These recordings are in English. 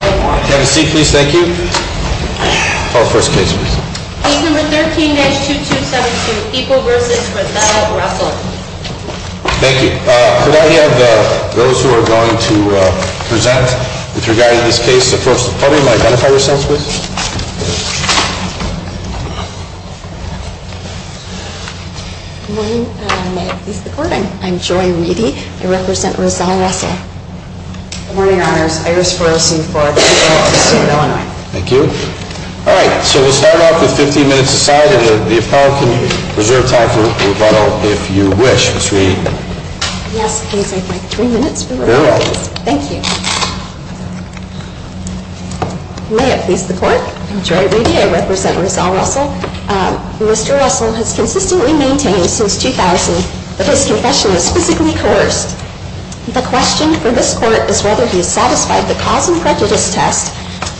Thank you. Could I have those who are going to present with regard to this case approach the podium and identify yourselves please? Good morning. May I please have the floor? I'm Joy Weedy. I represent Rozelle Russell. Mr. Russell has consistently maintained since 2000 that his confession was physically coerced. The question for this court is whether he has satisfied the cause and prejudice test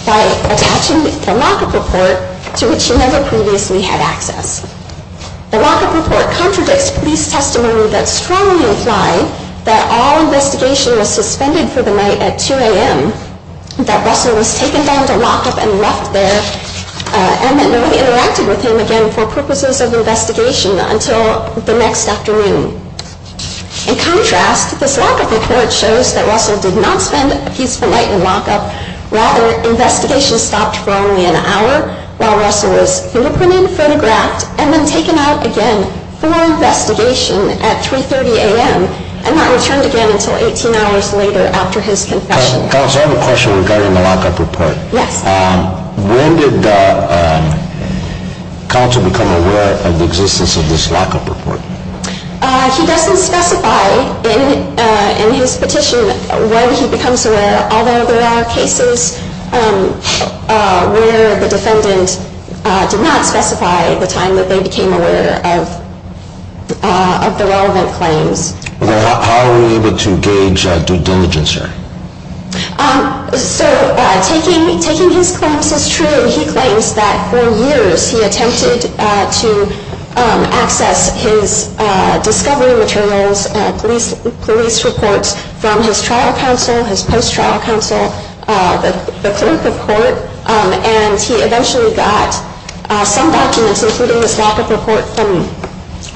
by attaching the lock-up report to which he never previously had access. The lock-up report contradicts police testimony that strongly implied that all investigation was suspended for the night at 2 a.m., that Russell was taken down to lock-up and left there, and that nobody interacted with him again for purposes of investigation until the next afternoon. In contrast, this lock-up report shows that Russell did not spend a peaceful night in lock-up. Rather, investigation stopped for only an hour while Russell was fingerprinted, photographed, and then taken out again for investigation at 3.30 a.m. and not returned again until 18 hours later after his confession. Counsel, I have a question regarding the lock-up report. When did counsel become aware of the existence of this lock-up report? He doesn't specify in his petition when he becomes aware, although there are cases where the defendant did not specify the time that they became aware of the relevant claims. How are we able to gauge due diligence here? Taking his claims as true, he claims that for years he attempted to access his discovery materials, police reports, from his trial counsel, his post-trial counsel, the clerk of court, and he eventually got some documents, including this lock-up report, from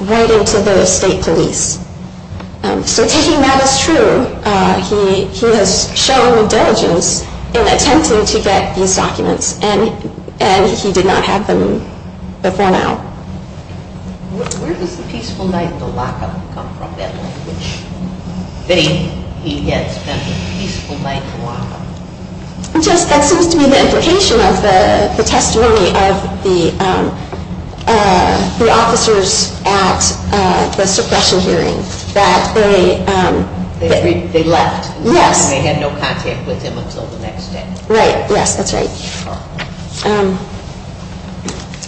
writing to the state police. So taking that as true, he has shown due diligence in attempting to get these documents, and he did not have them before now. Where does the peaceful night in lock-up come from, that he had spent a peaceful night in lock-up? That seems to be the implication of the testimony of the officers at the suppression hearing. They left, and they had no contact with him until the next day. Right, yes, that's right.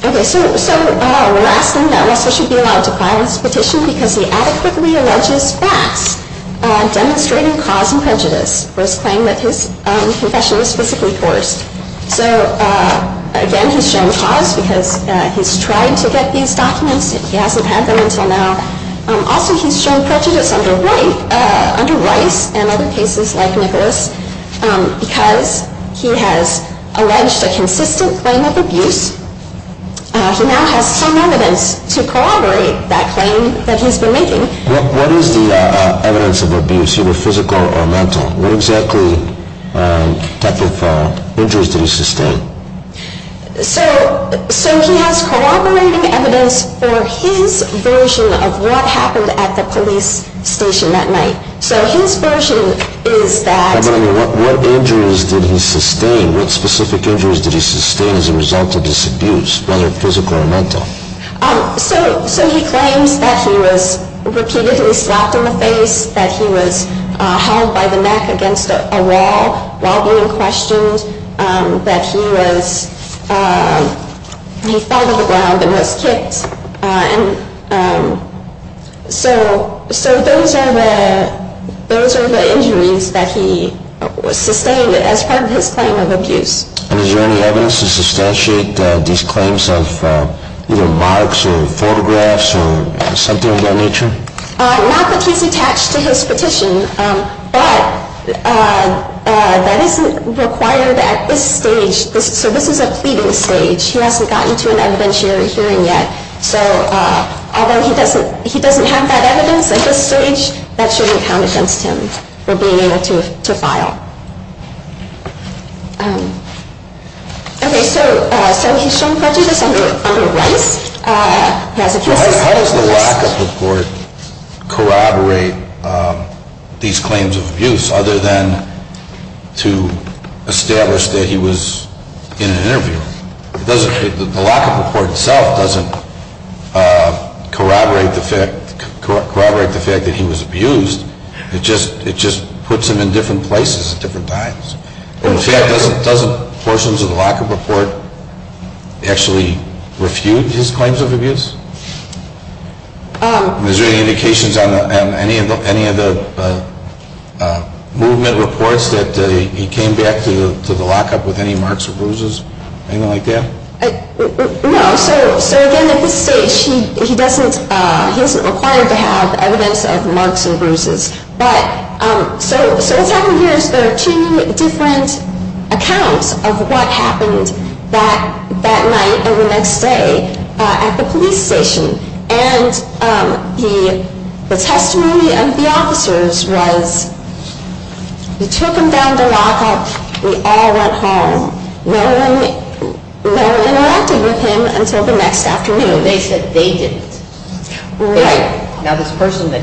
Okay, so we're asking that Russell should be allowed to file this petition because he adequately alleges facts demonstrating cause and prejudice for his claim that his confession was physically forced. So again, he's shown cause because he's tried to get these documents, and he hasn't had them until now. Also, he's shown prejudice under Rice and other cases like Nicholas because he has alleged a consistent claim of abuse. He now has some evidence to corroborate that claim that he's been making. What is the evidence of abuse, either physical or mental? What exactly type of injuries did he sustain? So he has corroborating evidence for his version of what happened at the police station that night. So his version is that... But I mean, what injuries did he sustain? What specific injuries did he sustain as a result of this abuse, whether physical or mental? So he claims that he was repeatedly slapped in the face, that he was held by the neck against a wall while being questioned, that he fell to the ground and was kicked. So those are the injuries that he sustained as part of his claim of abuse. And is there any evidence to substantiate these claims of either marks or photographs or something of that nature? Not that he's attached to his petition, but that isn't required at this stage. So this is a pleading stage. He hasn't gotten to an evidentiary hearing yet. So although he doesn't have that evidence at this stage, that shouldn't count against him for being able to file. Okay, so he's shown prejudice under Rice. How does the lockup report corroborate these claims of abuse other than to establish that he was in an interview? The lockup report itself doesn't corroborate the fact that he was abused. It just puts him in different places at different times. Doesn't portions of the lockup report actually refute his claims of abuse? Is there any indications on any of the movement reports that he came back to the lockup with any marks or bruises? Anything like that? No. So again, at this stage, he isn't required to have evidence of marks and bruises. So what's happening here is there are two different accounts of what happened that night and the next day at the police station. And the testimony of the officers was, we took him down to lockup. We all went home. No one interacted with him until the next afternoon. They said they didn't. Right. Now this person that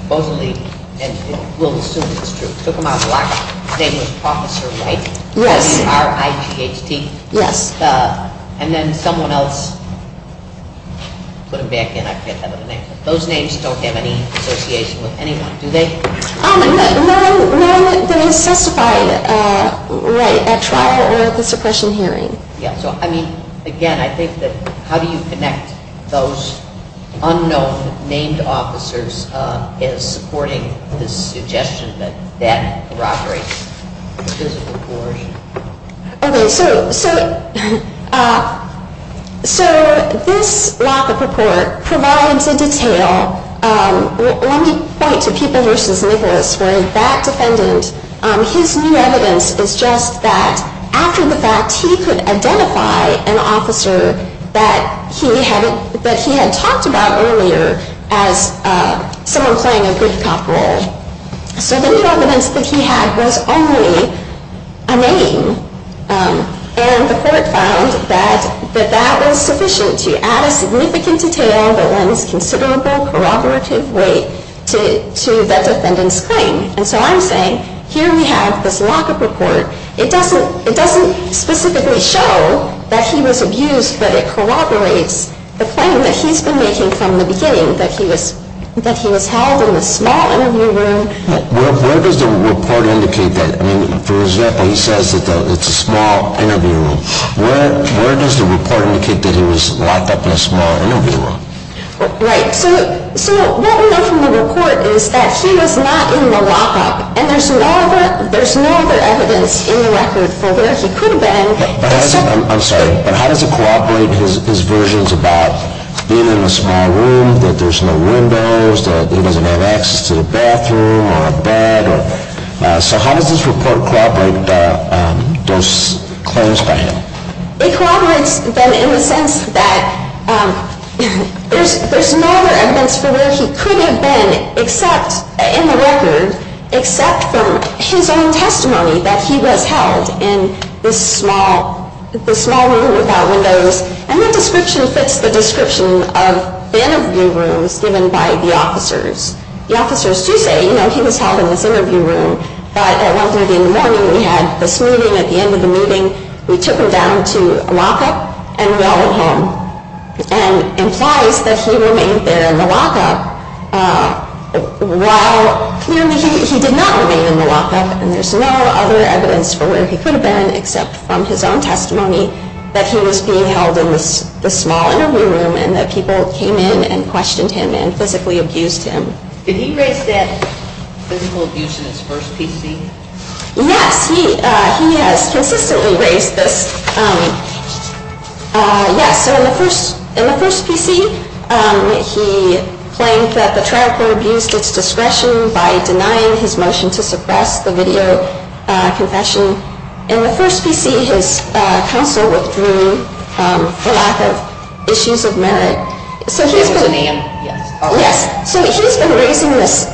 supposedly, and we'll assume it's true, took him out of lockup, his name was Professor Wright. Yes. P-R-I-G-H-T. Yes. And then someone else put him back in. I can't remember the name. Those names don't have any association with anyone, do they? No one that has testified at trial or at the suppression hearing. Yeah, so I mean, again, I think that how do you connect those unknown named officers as supporting this suggestion that that corroborates the physical coercion? Okay, so this lockup report provides a detail. Let me point to People v. Nicholas, where that defendant, his new evidence is just that after the fact, he could identify an officer that he had talked about earlier as someone playing a good cop role. So the new evidence that he had was only a name. And the court found that that was sufficient to add a significant detail that lends considerable corroborative weight to that defendant's claim. And so I'm saying, here we have this lockup report. It doesn't specifically show that he was abused, but it corroborates the claim that he's been making from the beginning, that he was held in a small interview room. Where does the report indicate that? I mean, for example, he says that it's a small interview room. Where does the report indicate that he was locked up in a small interview room? Right. So what we know from the report is that he was not in the lockup. And there's no other evidence in the record for where he could have been. I'm sorry, but how does it corroborate his versions about being in a small room, that there's no windows, that he doesn't have access to the bathroom or a bed? So how does this report corroborate those claims by him? It corroborates them in the sense that there's no other evidence for where he could have been in the record except from his own testimony that he was held in this small room without windows. And that description fits the description of the interview rooms given by the officers. The officers do say, you know, he was held in this interview room. But at 1.30 in the morning, we had this meeting. At the end of the meeting, we took him down to a lockup, and we all went home. And it implies that he remained there in the lockup. While, clearly, he did not remain in the lockup. And there's no other evidence for where he could have been except from his own testimony that he was being held in this small interview room. And that people came in and questioned him and physically abused him. Did he raise that physical abuse in his first PC? Yes, he has consistently raised this. Yes, so in the first PC, he claimed that the trial court abused its discretion by denying his motion to suppress the video confession. In the first PC, his counsel withdrew for lack of issues of merit. So he's been raising this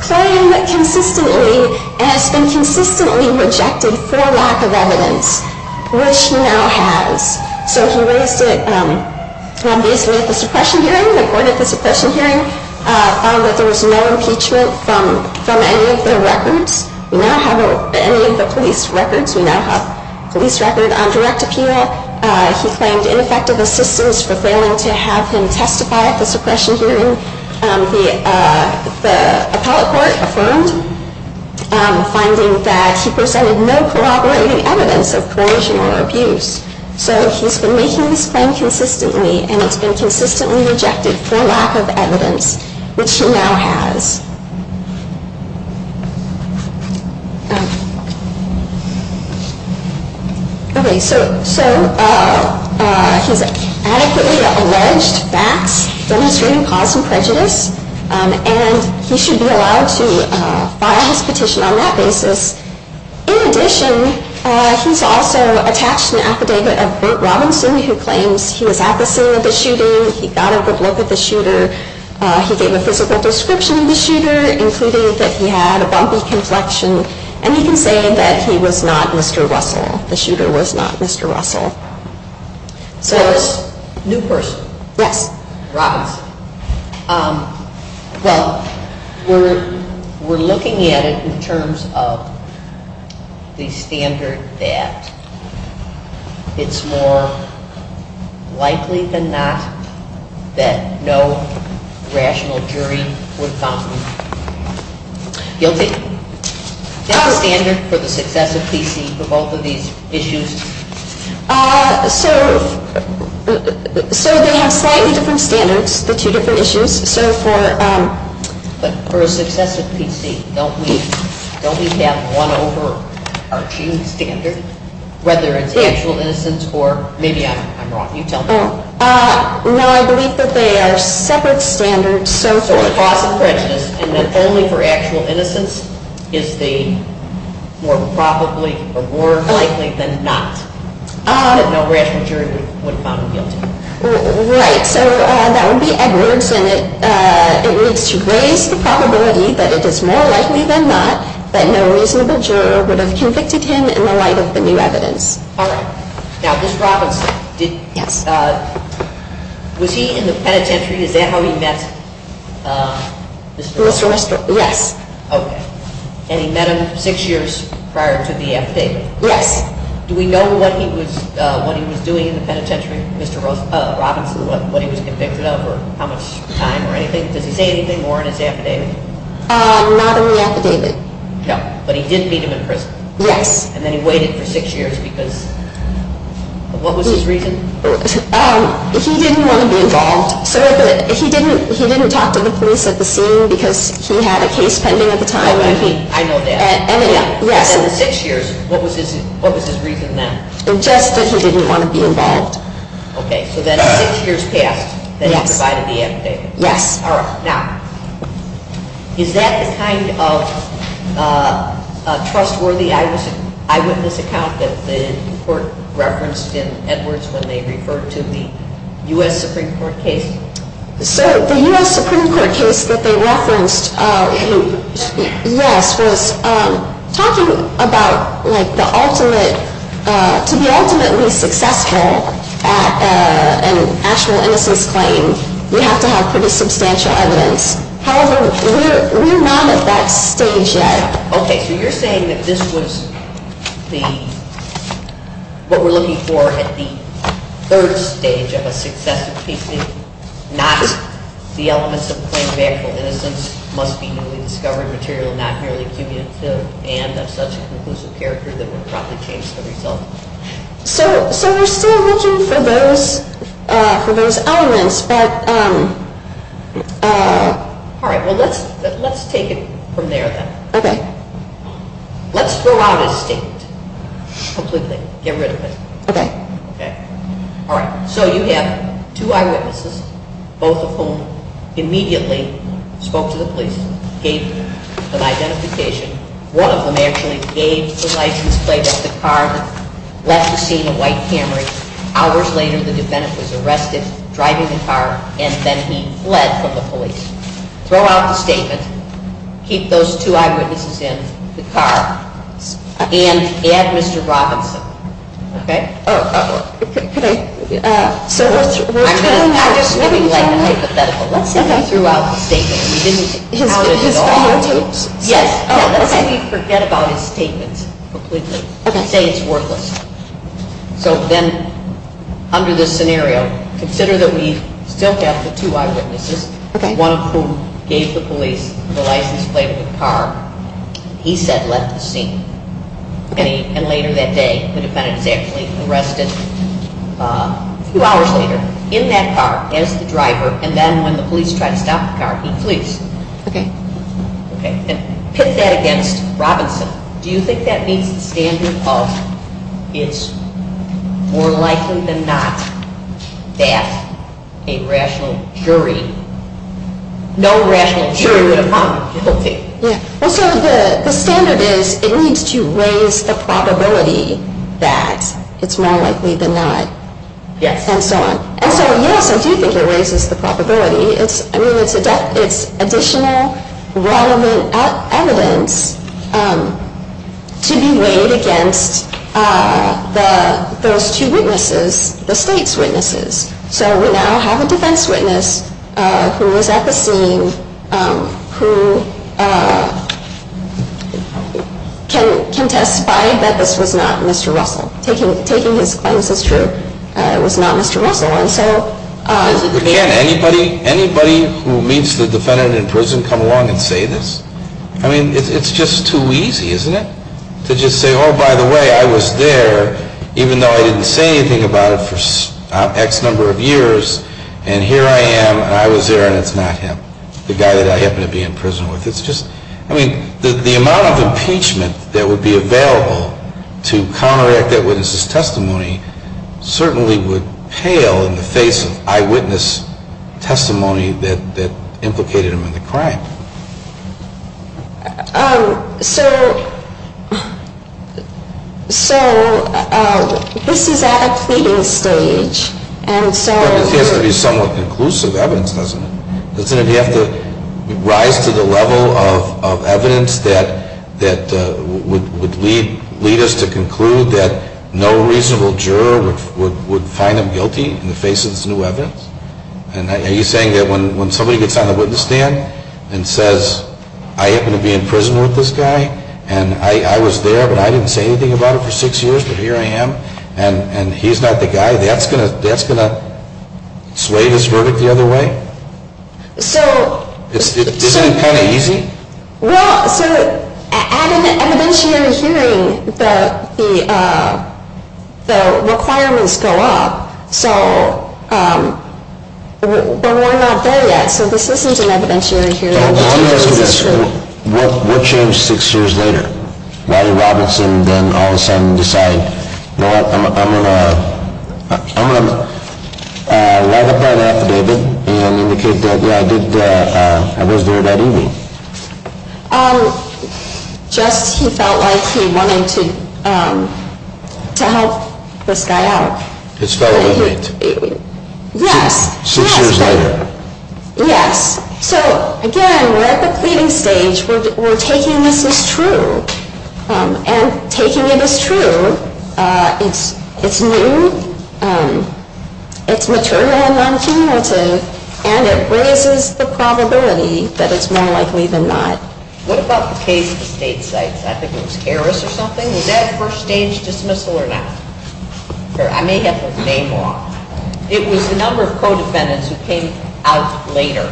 claim consistently, and it's been consistently rejected for lack of evidence, which he now has. So he raised it, obviously, at the suppression hearing. The court at the suppression hearing found that there was no impeachment from any of the records. We now have any of the police records. We now have a police record on direct appeal. He claimed ineffective assistance for failing to have him testify at the suppression hearing. The appellate court affirmed, finding that he presented no corroborating evidence of coercion or abuse. So he's been making this claim consistently, and it's been consistently rejected for lack of evidence, which he now has. Okay, so he's adequately alleged facts, demonstrating cause and prejudice, and he should be allowed to file his petition on that basis. In addition, he's also attached an affidavit of Burt Robinson, who claims he was at the scene of the shooting, he got a good look at the shooter, he gave a physical description of the shooter, including that he had a bumpy complexion, and he can say that he was not Mr. Russell. The shooter was not Mr. Russell. So it's a new person. Yes. Robinson. Well, we're looking at it in terms of the standard that it's more likely than not that no rational jury would found him guilty. Is that the standard for the success of PC for both of these issues? So they have slightly different standards, the two different issues. So for a success of PC, don't we have one overarching standard, whether it's actual innocence or maybe I'm wrong. You tell me. No, I believe that they are separate standards. So for the cause of prejudice and then only for actual innocence, is the more probably or more likely than not that no rational jury would have found him guilty? Right. So that would be Edwards, and it needs to raise the probability that it is more likely than not that no reasonable juror would have convicted him in the light of the new evidence. All right. Now, Mr. Robinson, was he in the penitentiary? Is that how he met? Yes. Okay. And he met him six years prior to the affidavit? Yes. Do we know what he was doing in the penitentiary, Mr. Robinson, what he was convicted of or how much time or anything? Does he say anything more in his affidavit? Not in the affidavit. No. But he did meet him in prison? Yes. And then he waited for six years because of what was his reason? He didn't want to be involved. He didn't talk to the police at the scene because he had a case pending at the time? I know that. Yes. In the six years, what was his reason then? Just that he didn't want to be involved. Okay. So then six years passed, then he provided the affidavit? Yes. All right. Now, is that the kind of trustworthy eyewitness account that the court referenced in Edwards when they referred to the U.S. Supreme Court case? So the U.S. Supreme Court case that they referenced, yes, was talking about like the ultimate, to be ultimately successful at an actual innocence claim, you have to have pretty substantial evidence. However, we're not at that stage yet. Okay. So you're saying that this was what we're looking for at the third stage of a successful case, not the elements of a claim of actual innocence, must be newly discovered material, not merely cumulative, and of such a conclusive character that would probably change the result? So we're still looking for those elements. All right. Well, let's take it from there then. Okay. Let's throw out his statement completely, get rid of it. Okay. Okay. All right. So you have two eyewitnesses, both of whom immediately spoke to the police, gave an identification. One of them actually gave the license plate of the car that left the scene of White Camry. Hours later, the defendant was arrested driving the car, and then he fled from the police. Throw out the statement. Keep those two eyewitnesses in the car. And add Mr. Robinson. Okay? Oh. Could I? I'm just giving like a hypothetical. Let's say we threw out the statement. His fingertips? Yes. Oh, okay. Let's say we forget about his statements completely. Okay. Let's say it's worthless. So then under this scenario, consider that we still have the two eyewitnesses. Okay. One of whom gave the police the license plate of the car he said left the scene. And later that day, the defendant is actually arrested a few hours later in that car as the driver, and then when the police try to stop the car, he flees. Okay. Okay. And pit that against Robinson. Do you think that meets the standard of it's more likely than not that a rational jury, no rational jury would have found him guilty? Yeah. Well, so the standard is it needs to raise the probability that it's more likely than not. Yes. And so on. And so, yes, I do think it raises the probability. I mean, it's additional relevant evidence to be weighed against those two witnesses, the state's witnesses. So we now have a defense witness who was at the scene who can testify that this was not Mr. Russell. Taking his claims as true, it was not Mr. Russell. But can anybody who meets the defendant in prison come along and say this? I mean, it's just too easy, isn't it? To just say, oh, by the way, I was there even though I didn't say anything about it for X number of years, and here I am, and I was there, and it's not him, the guy that I happen to be in prison with. I mean, the amount of impeachment that would be available to counteract that witness's testimony certainly would pale in the face of eyewitness testimony that implicated him in the crime. So this is at a pleading stage, and so. It has to be somewhat conclusive evidence, doesn't it? Doesn't it have to rise to the level of evidence that would lead us to conclude that no reasonable juror would find him guilty in the face of this new evidence? And are you saying that when somebody gets on the witness stand and says, I happen to be in prison with this guy, and I was there, but I didn't say anything about it for six years, but here I am, and he's not the guy, that's going to sway this verdict the other way? Isn't it kind of easy? Well, so at an evidentiary hearing, the requirements go up, but we're not there yet. So this isn't an evidentiary hearing. What changed six years later? Why did Robinson then all of a sudden decide, I'm going to write up that affidavit and indicate that, yeah, I was there that evening. Just he felt like he wanted to help this guy out. His fellow inmates. Yes. Six years later. Yes. So, again, we're at the pleading stage. We're taking this as true. And taking it as true, it's new, it's material and non-cumulative, and it raises the probability that it's more likely than not. What about the case of the state sites? I think it was Harris or something. Was that a first-stage dismissal or not? I may have the name wrong. It was a number of co-defendants who came out later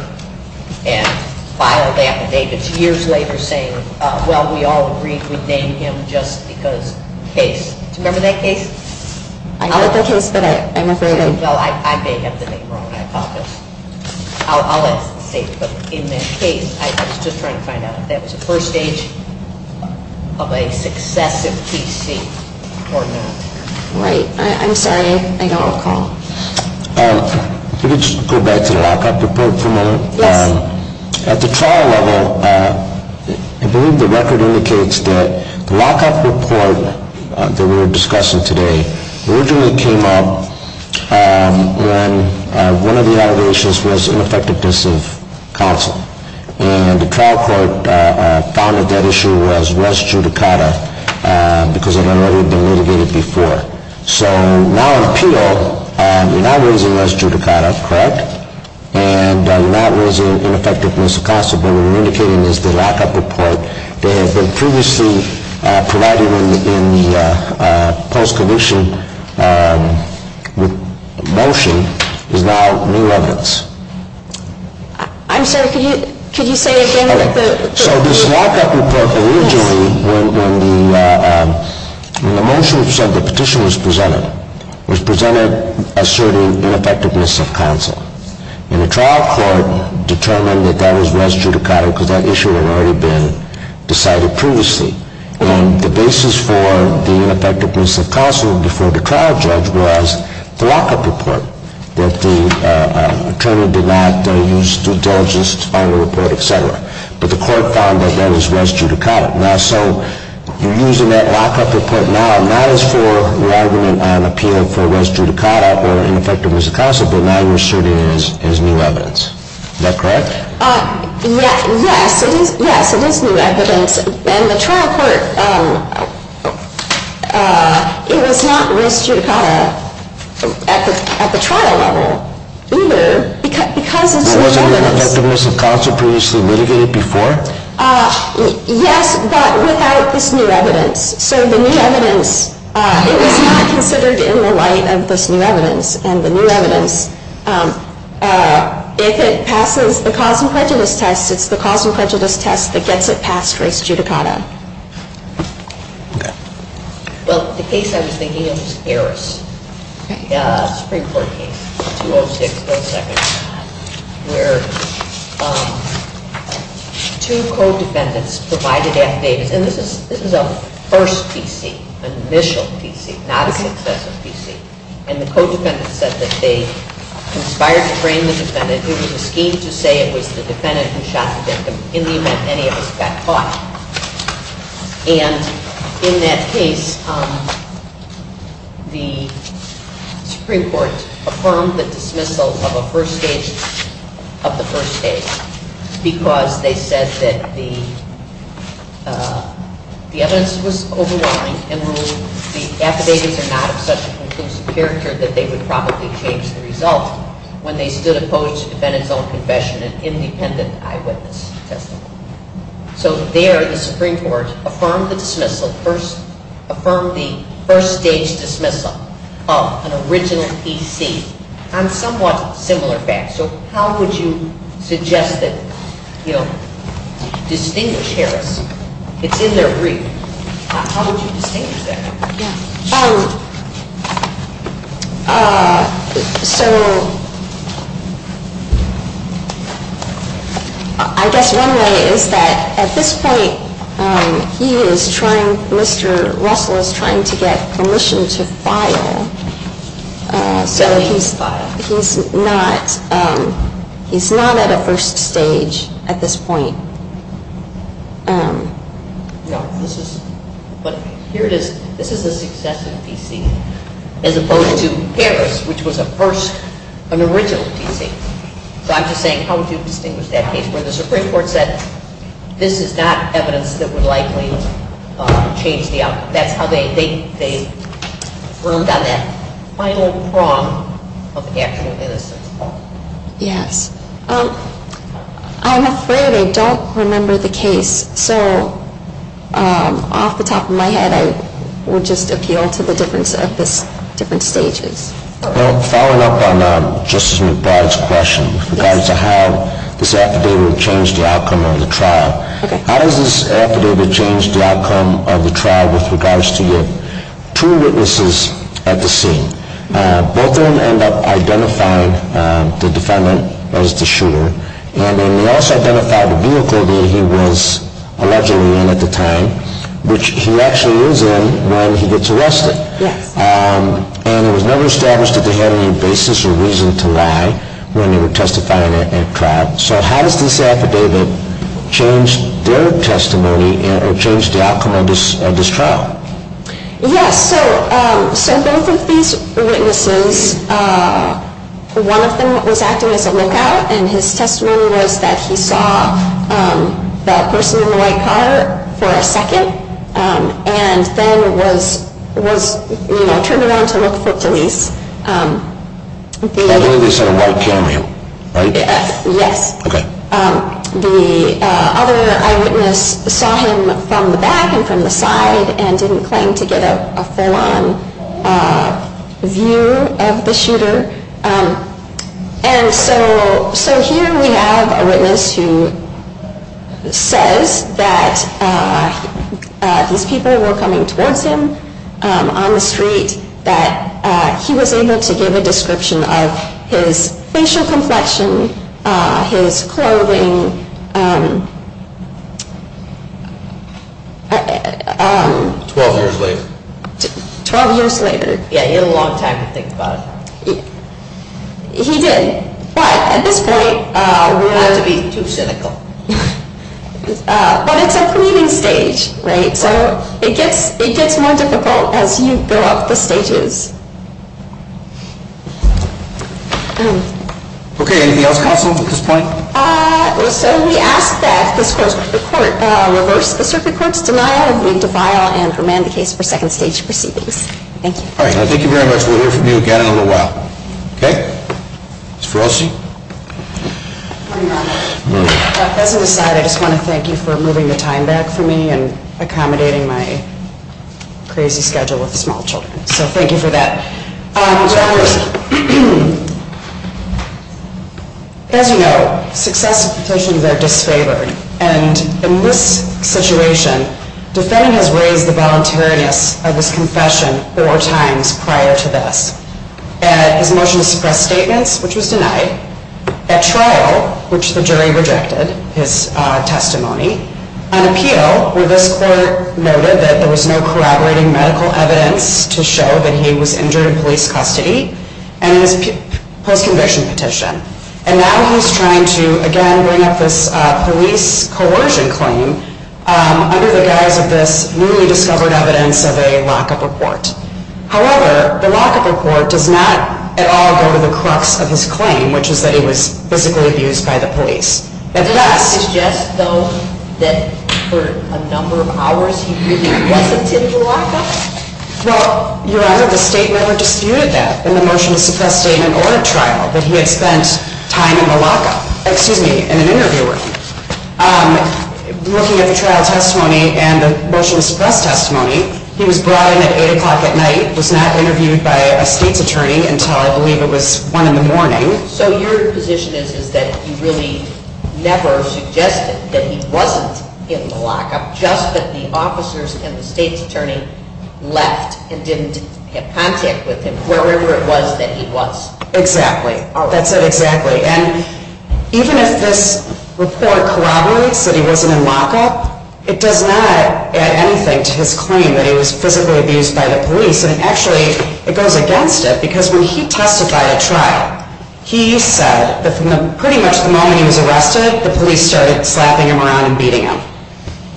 and filed affidavits years later saying, well, we all agreed we'd name him just because. Case. Do you remember that case? I heard that case, but I'm afraid. Well, I may have the name wrong. I apologize. I'll let the state. But in that case, I was just trying to find out if that was a first stage of a successive PC or not. Right. I'm sorry. I don't recall. If we could just go back to lock up the probe for a moment. Yes. At the trial level, I believe the record indicates that the lock up report that we're discussing today originally came up when one of the allegations was ineffectiveness of counsel. And the trial court found that that issue was res judicata because it had already been litigated before. So now in appeal, you're not raising res judicata, correct? Correct. And you're not raising ineffectiveness of counsel, but what we're indicating is the lock up report that had been previously provided in the post conviction motion is now new evidence. I'm sorry. Could you say it again? So this lock up report originally, when the motion was presented, the petition was presented, asserting ineffectiveness of counsel. And the trial court determined that that was res judicata because that issue had already been decided previously. And the basis for the ineffectiveness of counsel before the trial judge was the lock up report, that the attorney did not use due diligence on the report, et cetera. But the court found that that was res judicata. Now, so you're using that lock up report now not as for the argument on appeal for res judicata or ineffectiveness of counsel, but now you're asserting it as new evidence. Is that correct? Yes, it is new evidence. And the trial court, it was not res judicata at the trial level either because it's new evidence. Now, was ineffectiveness of counsel previously litigated before? Yes, but without this new evidence. So the new evidence, it was not considered in the light of this new evidence. And the new evidence, if it passes the cause and prejudice test, it's the cause and prejudice test that gets it passed res judicata. Okay. Well, the case I was thinking of was Harris, a Supreme Court case, 206-0-2, where two co-defendants provided affidavits. And this is a first PC, an initial PC, not a successive PC. And the co-defendant said that they conspired to frame the defendant. It was a scheme to say it was the defendant who shot the victim in the event any of us got caught. And in that case, the Supreme Court affirmed the dismissal of the first case because they said that the evidence was overwhelming and the affidavits are not of such a conclusive character that they would probably change the result when they stood opposed to the defendant's own confession in an independent eyewitness testimony. So there, the Supreme Court affirmed the dismissal, affirmed the first-stage dismissal of an original PC on somewhat similar facts. So how would you suggest that, you know, distinguish Harris? It's in their brief. How would you distinguish that? So I guess one way is that at this point, he is trying, Mr. Russell is trying to get permission to file. So he's not at a first stage at this point. No, this is, but here it is. This is a successive PC as opposed to Harris, which was a first, an original PC. So I'm just saying how would you distinguish that case where the Supreme Court said, this is not evidence that would likely change the outcome. That's how they, they, they roamed on that final prong of actual innocence. Yes. I'm afraid I don't remember the case. So off the top of my head, I would just appeal to the difference of this different stages. Well, following up on Justice McBride's question in regards to how this affidavit would change the outcome of the trial, how does this affidavit change the outcome of the trial with regards to the two witnesses at the scene? Both of them end up identifying the defendant as the shooter. And then they also identified the vehicle that he was allegedly in at the time, which he actually is in when he gets arrested. Yes. And it was never established that they had any basis or reason to lie when they were testifying at trial. So how does this affidavit change their testimony or change the outcome of this trial? Yes. So, so both of these witnesses, one of them was acting as a lookout, and his testimony was that he saw that person in the white car for a second, and then was, was, you know, turned around to look for police. I believe they saw a white Camry, right? Yes. Okay. The other eyewitness saw him from the back and from the side and didn't claim to get a full-on view of the shooter. And so, so here we have a witness who says that these people were coming towards him on the street, that he was able to give a description of his facial complexion, his clothing. Twelve years later. Twelve years later. Yeah, he had a long time to think about it. He did, but at this point. We don't have to be too cynical. But it's a cleaning stage, right? So it gets, it gets more difficult as you go up the stages. Okay, anything else, counsel, at this point? So we ask that this court, the court reverse the circuit court's denial of the defile and remand the case for second stage proceedings. Thank you. All right. Thank you very much. We'll hear from you again in a little while. Okay? Ms. Ferrosi? Good morning, Your Honor. Good morning. As an aside, I just want to thank you for moving the time back for me and accommodating my crazy schedule with small children. So thank you for that. So, as you know, successive petitions are disfavored. And in this situation, defending has raised the voluntariness of this confession four times prior to this. At his motion to suppress statements, which was denied. At trial, which the jury rejected his testimony. On appeal, where this court noted that there was no corroborating medical evidence to show that he was injured in police custody. And his post-conviction petition. And now he's trying to, again, bring up this police coercion claim under the guise of this newly discovered evidence of a lockup report. However, the lockup report does not at all go to the crux of his claim, which is that he was physically abused by the police. Does that suggest, though, that for a number of hours he really wasn't in the lockup? Well, Your Honor, the state never disputed that in the motion to suppress statement or at trial, that he had spent time in the lockup. Excuse me, in an interview room. Looking at the trial testimony and the motion to suppress testimony, he was brought in at 8 o'clock at night. Was not interviewed by a state's attorney until I believe it was 1 in the morning. So your position is that he really never suggested that he wasn't in the lockup, just that the officers and the state's attorney left and didn't have contact with him, wherever it was that he was. Exactly. That's it, exactly. And even if this report corroborates that he wasn't in lockup, it does not add anything to his claim that he was physically abused by the police. And actually, it goes against it, because when he testified at trial, he said that pretty much the moment he was arrested, the police started slapping him around and beating him.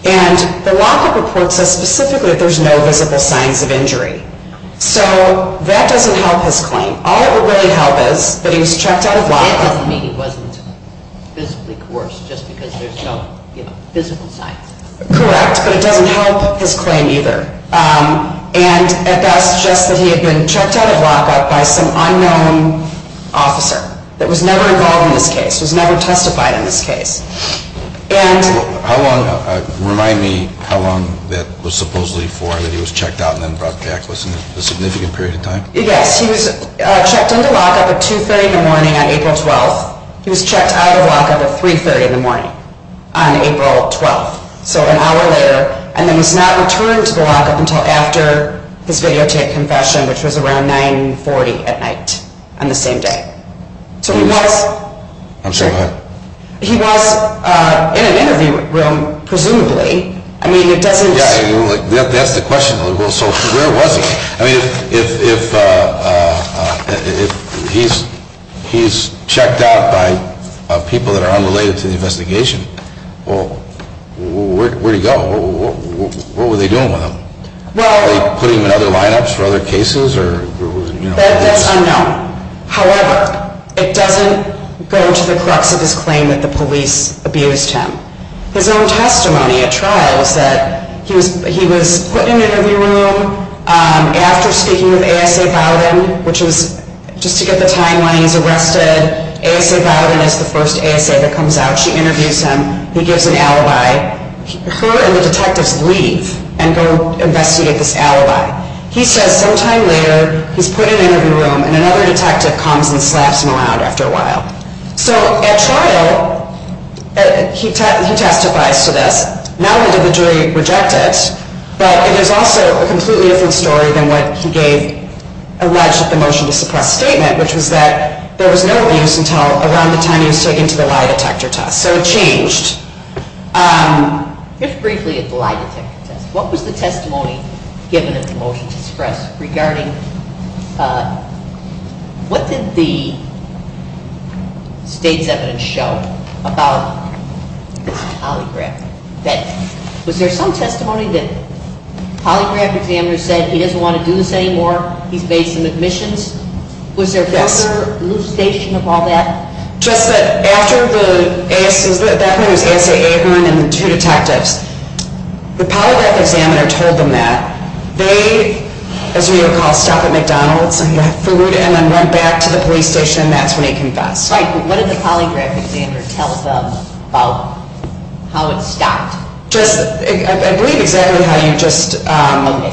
And the lockup report says specifically that there's no visible signs of injury. So that doesn't help his claim. All it would really help is that he was checked out of lockup. That doesn't mean he wasn't physically coerced, just because there's no visible signs. Correct, but it doesn't help his claim either. And at best, just that he had been checked out of lockup by some unknown officer that was never involved in this case, was never testified in this case. Remind me how long that was supposedly for, that he was checked out and then brought back. Was it a significant period of time? Yes, he was checked into lockup at 2.30 in the morning on April 12th. He was checked out of lockup at 3.30 in the morning on April 12th, so an hour later. And then he was not returned to the lockup until after his videotape confession, which was around 9.40 at night on the same day. So he was in an interview room, presumably. Yeah, that's the question. So where was he? I mean, if he's checked out by people that are unrelated to the investigation, where did he go? What were they doing with him? Were they putting him in other lineups for other cases? That's unknown. However, it doesn't go to the crux of his claim that the police abused him. His own testimony at trial is that he was put in an interview room after speaking with A.S.A. Bowden, which is just to get the timeline, he's arrested. A.S.A. Bowden is the first A.S.A. that comes out. She interviews him. He gives an alibi. Her and the detectives leave and go investigate this alibi. He says sometime later he's put in an interview room, and another detective comes and slaps him around after a while. So at trial, he testifies to this. Not only did the jury reject it, but it is also a completely different story than what he gave alleged at the motion to suppress statement, which was that there was no abuse until around the time he was taken to the lie detector test. So it changed. Just briefly at the lie detector test, what was the testimony given at the motion to suppress regarding what did the state's evidence show about this polygraph? Was there some testimony that polygraph examiners said he doesn't want to do this anymore? He's based on admissions? Was there further elucidation of all that? Just that after the A.S.A. That was A.S.A. Aikman and the two detectives. The polygraph examiner told them that. They, as we recall, stopped at McDonald's and got food and then went back to the police station. That's when he confessed. What did the polygraph examiner tell them about how it stopped? I believe exactly how you just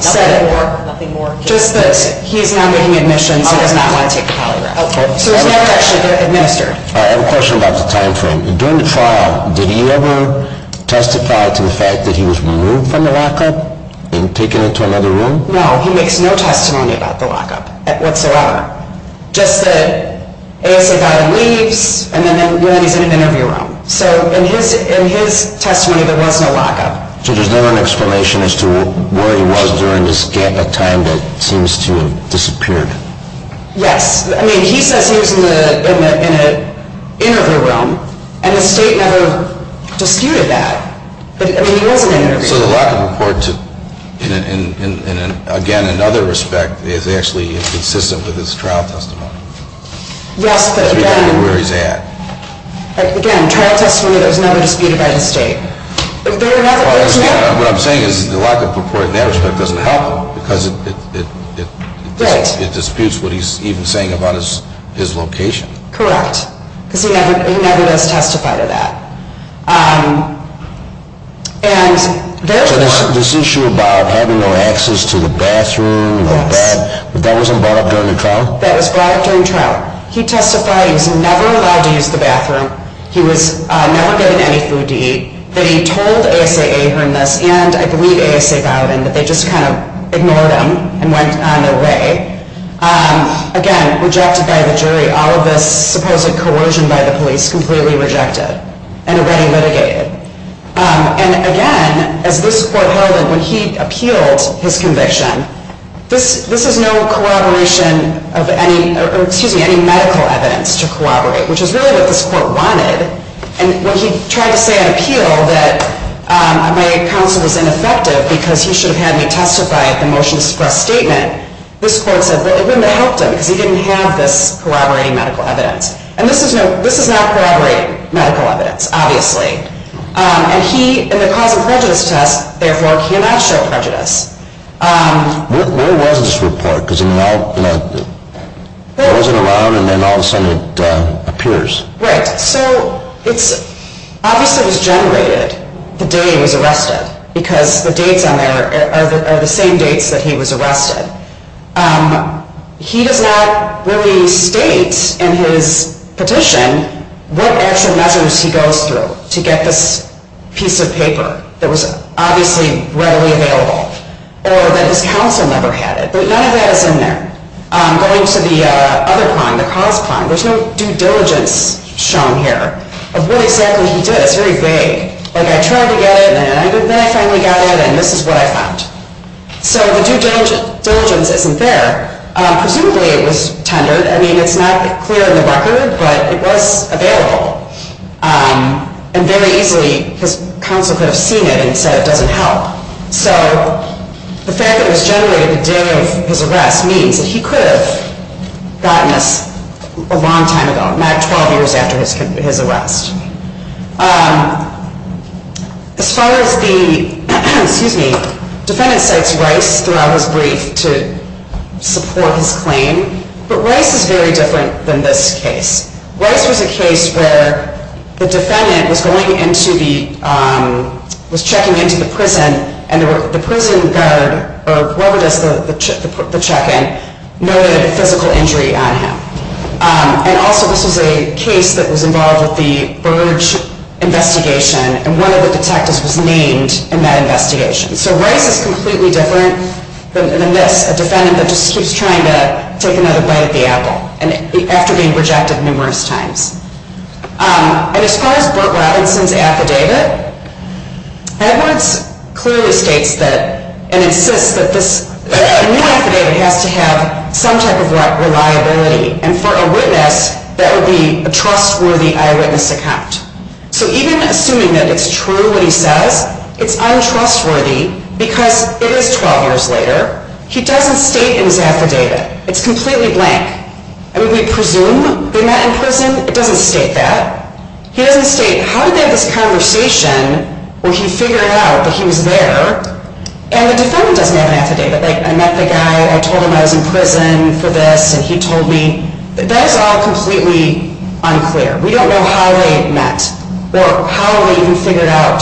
said it. Nothing more? Just that he's not getting admissions and does not want to take the polygraph. So it was never actually administered. I have a question about the time frame. During the trial, did he ever testify to the fact that he was removed from the lockup and taken into another room? No, he makes no testimony about the lockup whatsoever. Just that A.S.A. Guy leaves and then he's in an interview room. So in his testimony, there was no lockup. So there's never an explanation as to where he was during this time that seems to have disappeared? Yes. I mean, he says he was in an interview room, and the state never disputed that. But, I mean, he was in an interview room. So the lockup report, again, in other respect, is actually consistent with his trial testimony? Yes, but again- Where he's at. Again, trial testimony that was never disputed by the state. What I'm saying is the lockup report in that respect doesn't help him because it- Right. It disputes what he's even saying about his location. Correct. Because he never does testify to that. And therefore- So this issue about having no access to the bathroom or bed, that wasn't brought up during the trial? That was brought up during trial. He testified he was never allowed to use the bathroom. He was never given any food to eat. He testified that he told ASA Ahern this, and I believe ASA Bowden, that they just kind of ignored him and went on their way. Again, rejected by the jury. All of this supposed coercion by the police, completely rejected and already litigated. And again, as this court heard him when he appealed his conviction, this is no corroboration of any medical evidence to corroborate, which is really what this court wanted. And when he tried to say on appeal that my counsel was ineffective because he should have had me testify at the motion to suppress statement, this court said it wouldn't have helped him because he didn't have this corroborating medical evidence. And this is not corroborating medical evidence, obviously. And he, in the cause of prejudice test, therefore cannot show prejudice. Where was this report? Because it wasn't around and then all of a sudden it appears. Right. So it's obviously it was generated the day he was arrested because the dates on there are the same dates that he was arrested. He does not really state in his petition what actual measures he goes through to get this piece of paper that was obviously readily available or that his counsel never had it. But none of that is in there. Going to the other crime, the cause crime, there's no due diligence shown here of what exactly he did. It's very vague. Like I tried to get it and then I finally got it and this is what I found. So the due diligence isn't there. Presumably it was tendered. I mean, it's not clear in the record, but it was available. And very easily his counsel could have seen it and said it doesn't help. So the fact that it was generated the day of his arrest means that he could have gotten this a long time ago, 12 years after his arrest. As far as the, excuse me, defendant cites Rice throughout his brief to support his claim. But Rice is very different than this case. Rice was a case where the defendant was going into the, was checking into the prison and the prison guard or whoever does the check-in noted a physical injury on him. And also this was a case that was involved with the Burge investigation and one of the detectives was named in that investigation. So Rice is completely different than this, a defendant that just keeps trying to take another bite at the apple. And after being rejected numerous times. And as far as Burt Robinson's affidavit, Edwards clearly states that and insists that this new affidavit has to have some type of reliability. And for a witness, that would be a trustworthy eyewitness account. So even assuming that it's true what he says, it's untrustworthy because it is 12 years later. He doesn't state in his affidavit. It's completely blank. I mean, we presume they met in prison. It doesn't state that. He doesn't state how did they have this conversation where he figured out that he was there. And the defendant doesn't have an affidavit. Like, I met the guy, I told him I was in prison for this and he told me. That is all completely unclear. We don't know how they met or how they even figured out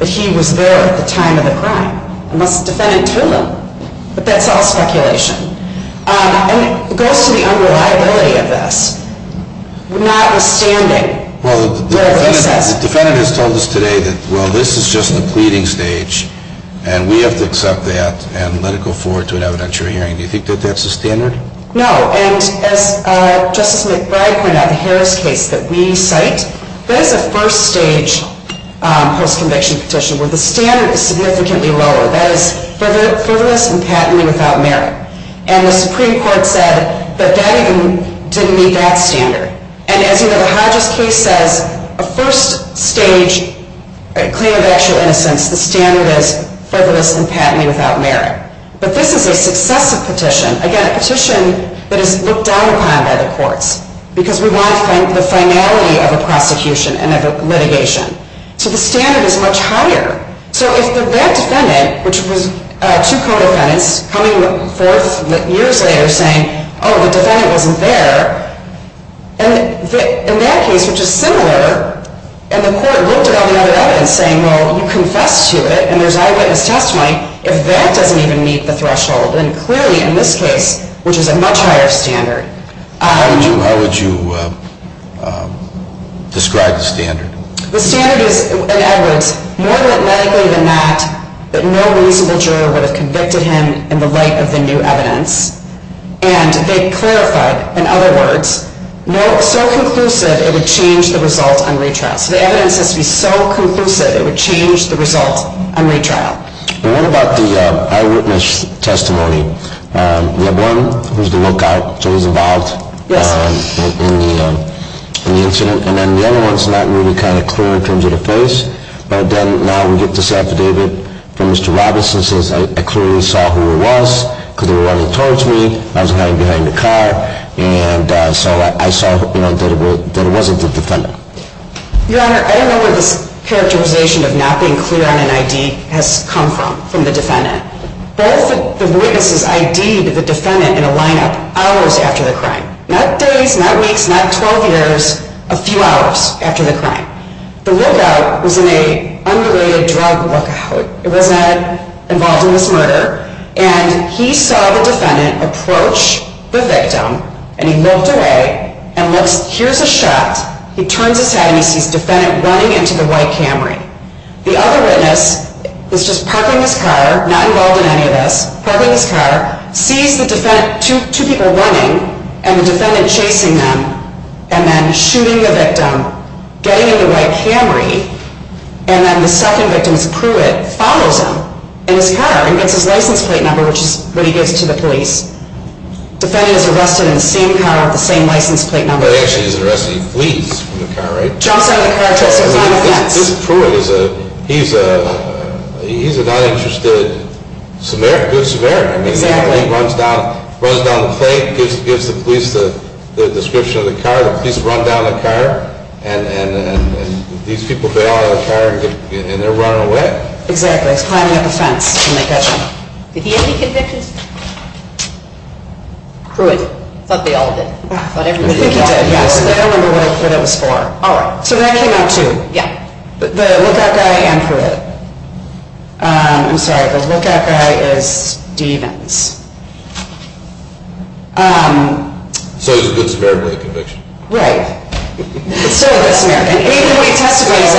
that he was there at the time of the crime. Unless the defendant told him. But that's all speculation. And it goes to the unreliability of this. Notwithstanding. Well, the defendant has told us today that, well, this is just the pleading stage. And we have to accept that and let it go forward to an evidentiary hearing. Do you think that that's the standard? No. And as Justice McBride pointed out, the Harris case that we cite, that is a first-stage post-conviction petition where the standard is significantly lower. That is frivolous and patently without merit. And the Supreme Court said that that even didn't meet that standard. And as the Hodges case says, a first-stage claim of actual innocence, the standard is frivolous and patently without merit. But this is a successive petition, again, a petition that is looked down upon by the courts because we want the finality of a prosecution and of a litigation. So the standard is much higher. So if that defendant, which was two co-defendants, coming forth years later saying, oh, the defendant wasn't there, and in that case, which is similar, and the court looked at all the other evidence saying, well, you confessed to it, and there's eyewitness testimony, if that doesn't even meet the threshold, then clearly in this case, which is a much higher standard. How would you describe the standard? The standard is, in Edwards, more than likely than not, that no reasonable juror would have convicted him in the light of the new evidence. And they clarified, in other words, so conclusive it would change the result on retrial. So the evidence has to be so conclusive it would change the result on retrial. And what about the eyewitness testimony? We have one who's the lookout, so he's involved in the incident. And then the other one's not really kind of clear in terms of the face. But then now we get this affidavit from Mr. Robinson that says, I clearly saw who it was because they were running towards me. I was hiding behind the car. And so I saw that it wasn't the defendant. Your Honor, I don't know where this characterization of not being clear on an ID has come from, from the defendant. Both the witnesses ID'd the defendant in a lineup hours after the crime. Not days, not weeks, not 12 years, a few hours after the crime. The lookout was an underrated drug lookout. It was not involved in this murder. And he saw the defendant approach the victim, and he looked away and looks, here's a shot. He turns his head, and he sees the defendant running into the white Camry. The other witness is just parking his car, not involved in any of this, parking his car, sees the defendant, two people running, and the defendant chasing them, and then shooting the victim, getting in the white Camry, and then the second victim's crewmate follows him in his car and gets his license plate number, which is what he gives to the police. Defendant is arrested in the same car with the same license plate number. He actually is arrested. He flees from the car, right? Jumps out of the car, tries to climb a fence. This crewmate, he's a not interested good Samaritan. Exactly. He runs down the plate, gives the police the description of the car. The police run down the car, and these people get out of the car, and they're running away. Exactly. He's climbing up a fence in the bedroom. Did he have any convictions? Crewmate. I thought they all did. I think he did, yes. I don't remember what it was for. All right. So that came out too. Yeah. The lookout guy and crewmate. I'm sorry. The lookout guy is Stevens. So he's a good Samaritan with a conviction. Right. He's a good Samaritan. Even when he testifies,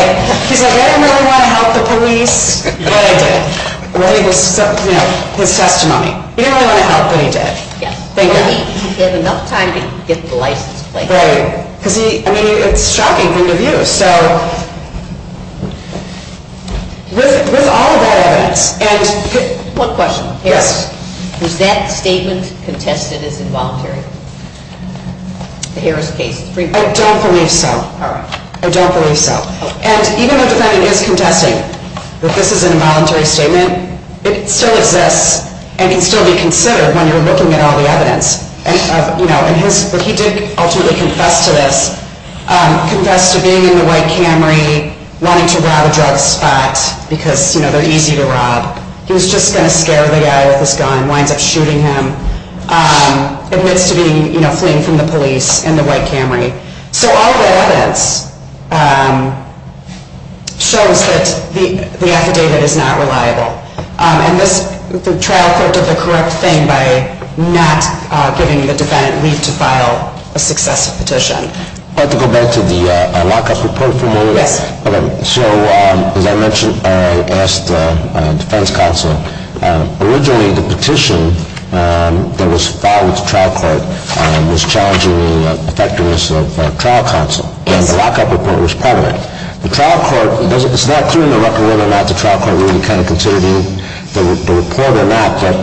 he's like, I didn't really want to help the police, but I did. His testimony. He didn't really want to help, but he did. He had enough time to get the license plate. Right. I mean, it's shocking from the view. So with all of that evidence. One question. Yes. Was that statement contested as involuntary? The Harris case. I don't believe so. All right. I don't believe so. And even though the defendant is contesting that this is an involuntary statement, it still exists and can still be considered when you're looking at all the evidence. He did ultimately confess to this. Confessed to being in the white Camry, wanting to rob a drug spot because they're easy to rob. He was just going to scare the guy with his gun. Winds up shooting him. Admits to fleeing from the police in the white Camry. So all of that evidence shows that the affidavit is not reliable. And the trial court did the correct thing by not giving the defendant leave to file a successive petition. I'd like to go back to the lockup report from earlier. Yes. So as I mentioned, I asked the defense counsel, originally the petition that was filed with the trial court was challenging the effectiveness of trial counsel. And the lockup report was prevalent. It's not clear in the record whether or not the trial court really considered the report or not. But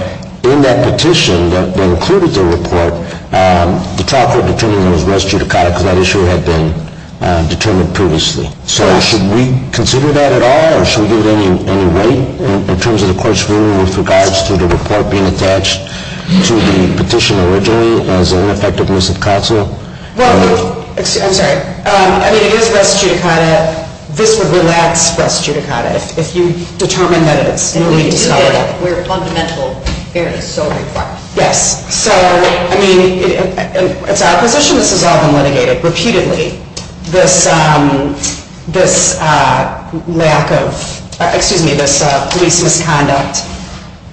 in that petition that included the report, the trial court determined it was res judicata because that issue had been determined previously. So should we consider that at all? Or should we give it any weight in terms of the court's ruling with regards to the report being attached to the petition originally as ineffectiveness of counsel? I'm sorry. I mean, it is res judicata. This would relax res judicata if you determine that it is. We're fundamental fairness. Yes. So, I mean, it's our position this has all been litigated repeatedly. This lack of, excuse me, this police misconduct.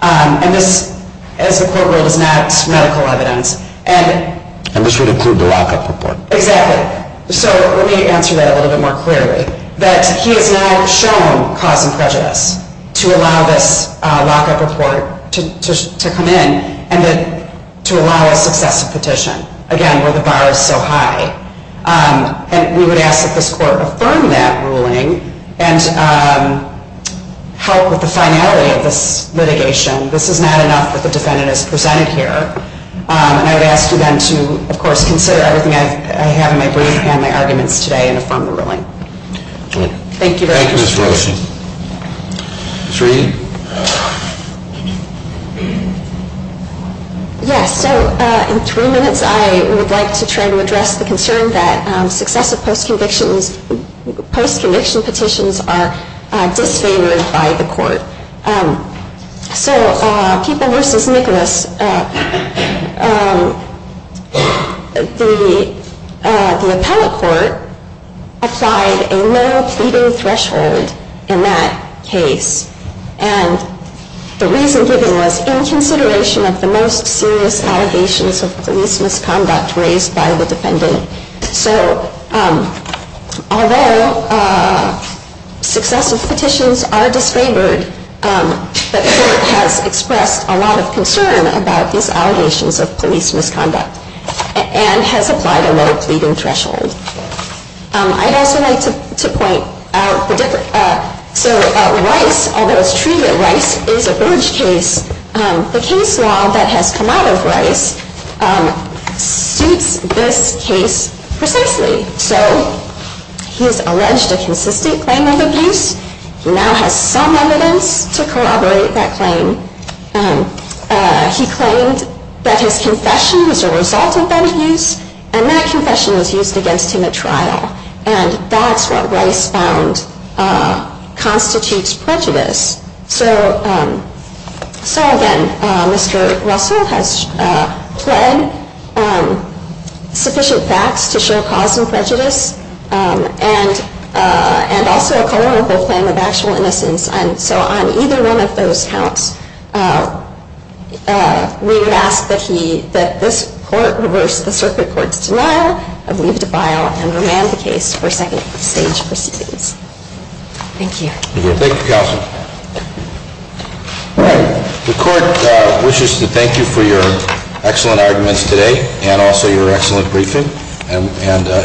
And this, as the court ruled, is not medical evidence. And this would include the lockup report. Exactly. So let me answer that a little bit more clearly. That he has now shown cause and prejudice to allow this lockup report to come in and to allow a successive petition, again, where the bar is so high. And we would ask that this court affirm that ruling and help with the finality of this litigation. This is not enough that the defendant is presented here. And I would ask you then to, of course, consider everything I have in my brief and my arguments today and affirm the ruling. Thank you very much. Thank you, Ms. Roach. Sheree? Yes. So in three minutes I would like to try to address the concern that successive post-conviction petitions are disfavored by the court. So People v. Nicholas, the appellate court applied a low pleading threshold in that case. And the reason given was in consideration of the most serious allegations of police misconduct raised by the defendant. So although successive petitions are disfavored, the court has expressed a lot of concern about these allegations of police misconduct and has applied a low pleading threshold. I'd also like to point out the difference. So Rice, although it's true that Rice is a Burge case, the case law that has come out of Rice suits this case precisely. So he has alleged a consistent claim of abuse. He now has some evidence to corroborate that claim. He claimed that his confession was a result of that abuse and that confession was used against him at trial. And that's what Rice found constitutes prejudice. So, again, Mr. Russell has pled sufficient facts to show cause and prejudice and also a culpable claim of actual innocence. And so on either one of those counts, we would ask that this court reverse the circuit court's denial of leave to file and remand the case for second stage proceedings. Thank you. Thank you, Counsel. All right. The court wishes to thank you for your excellent arguments today and also your excellent briefing. And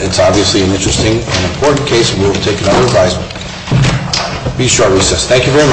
it's obviously an interesting and important case. We will take another advisement. Be sure to recess. Thank you very much.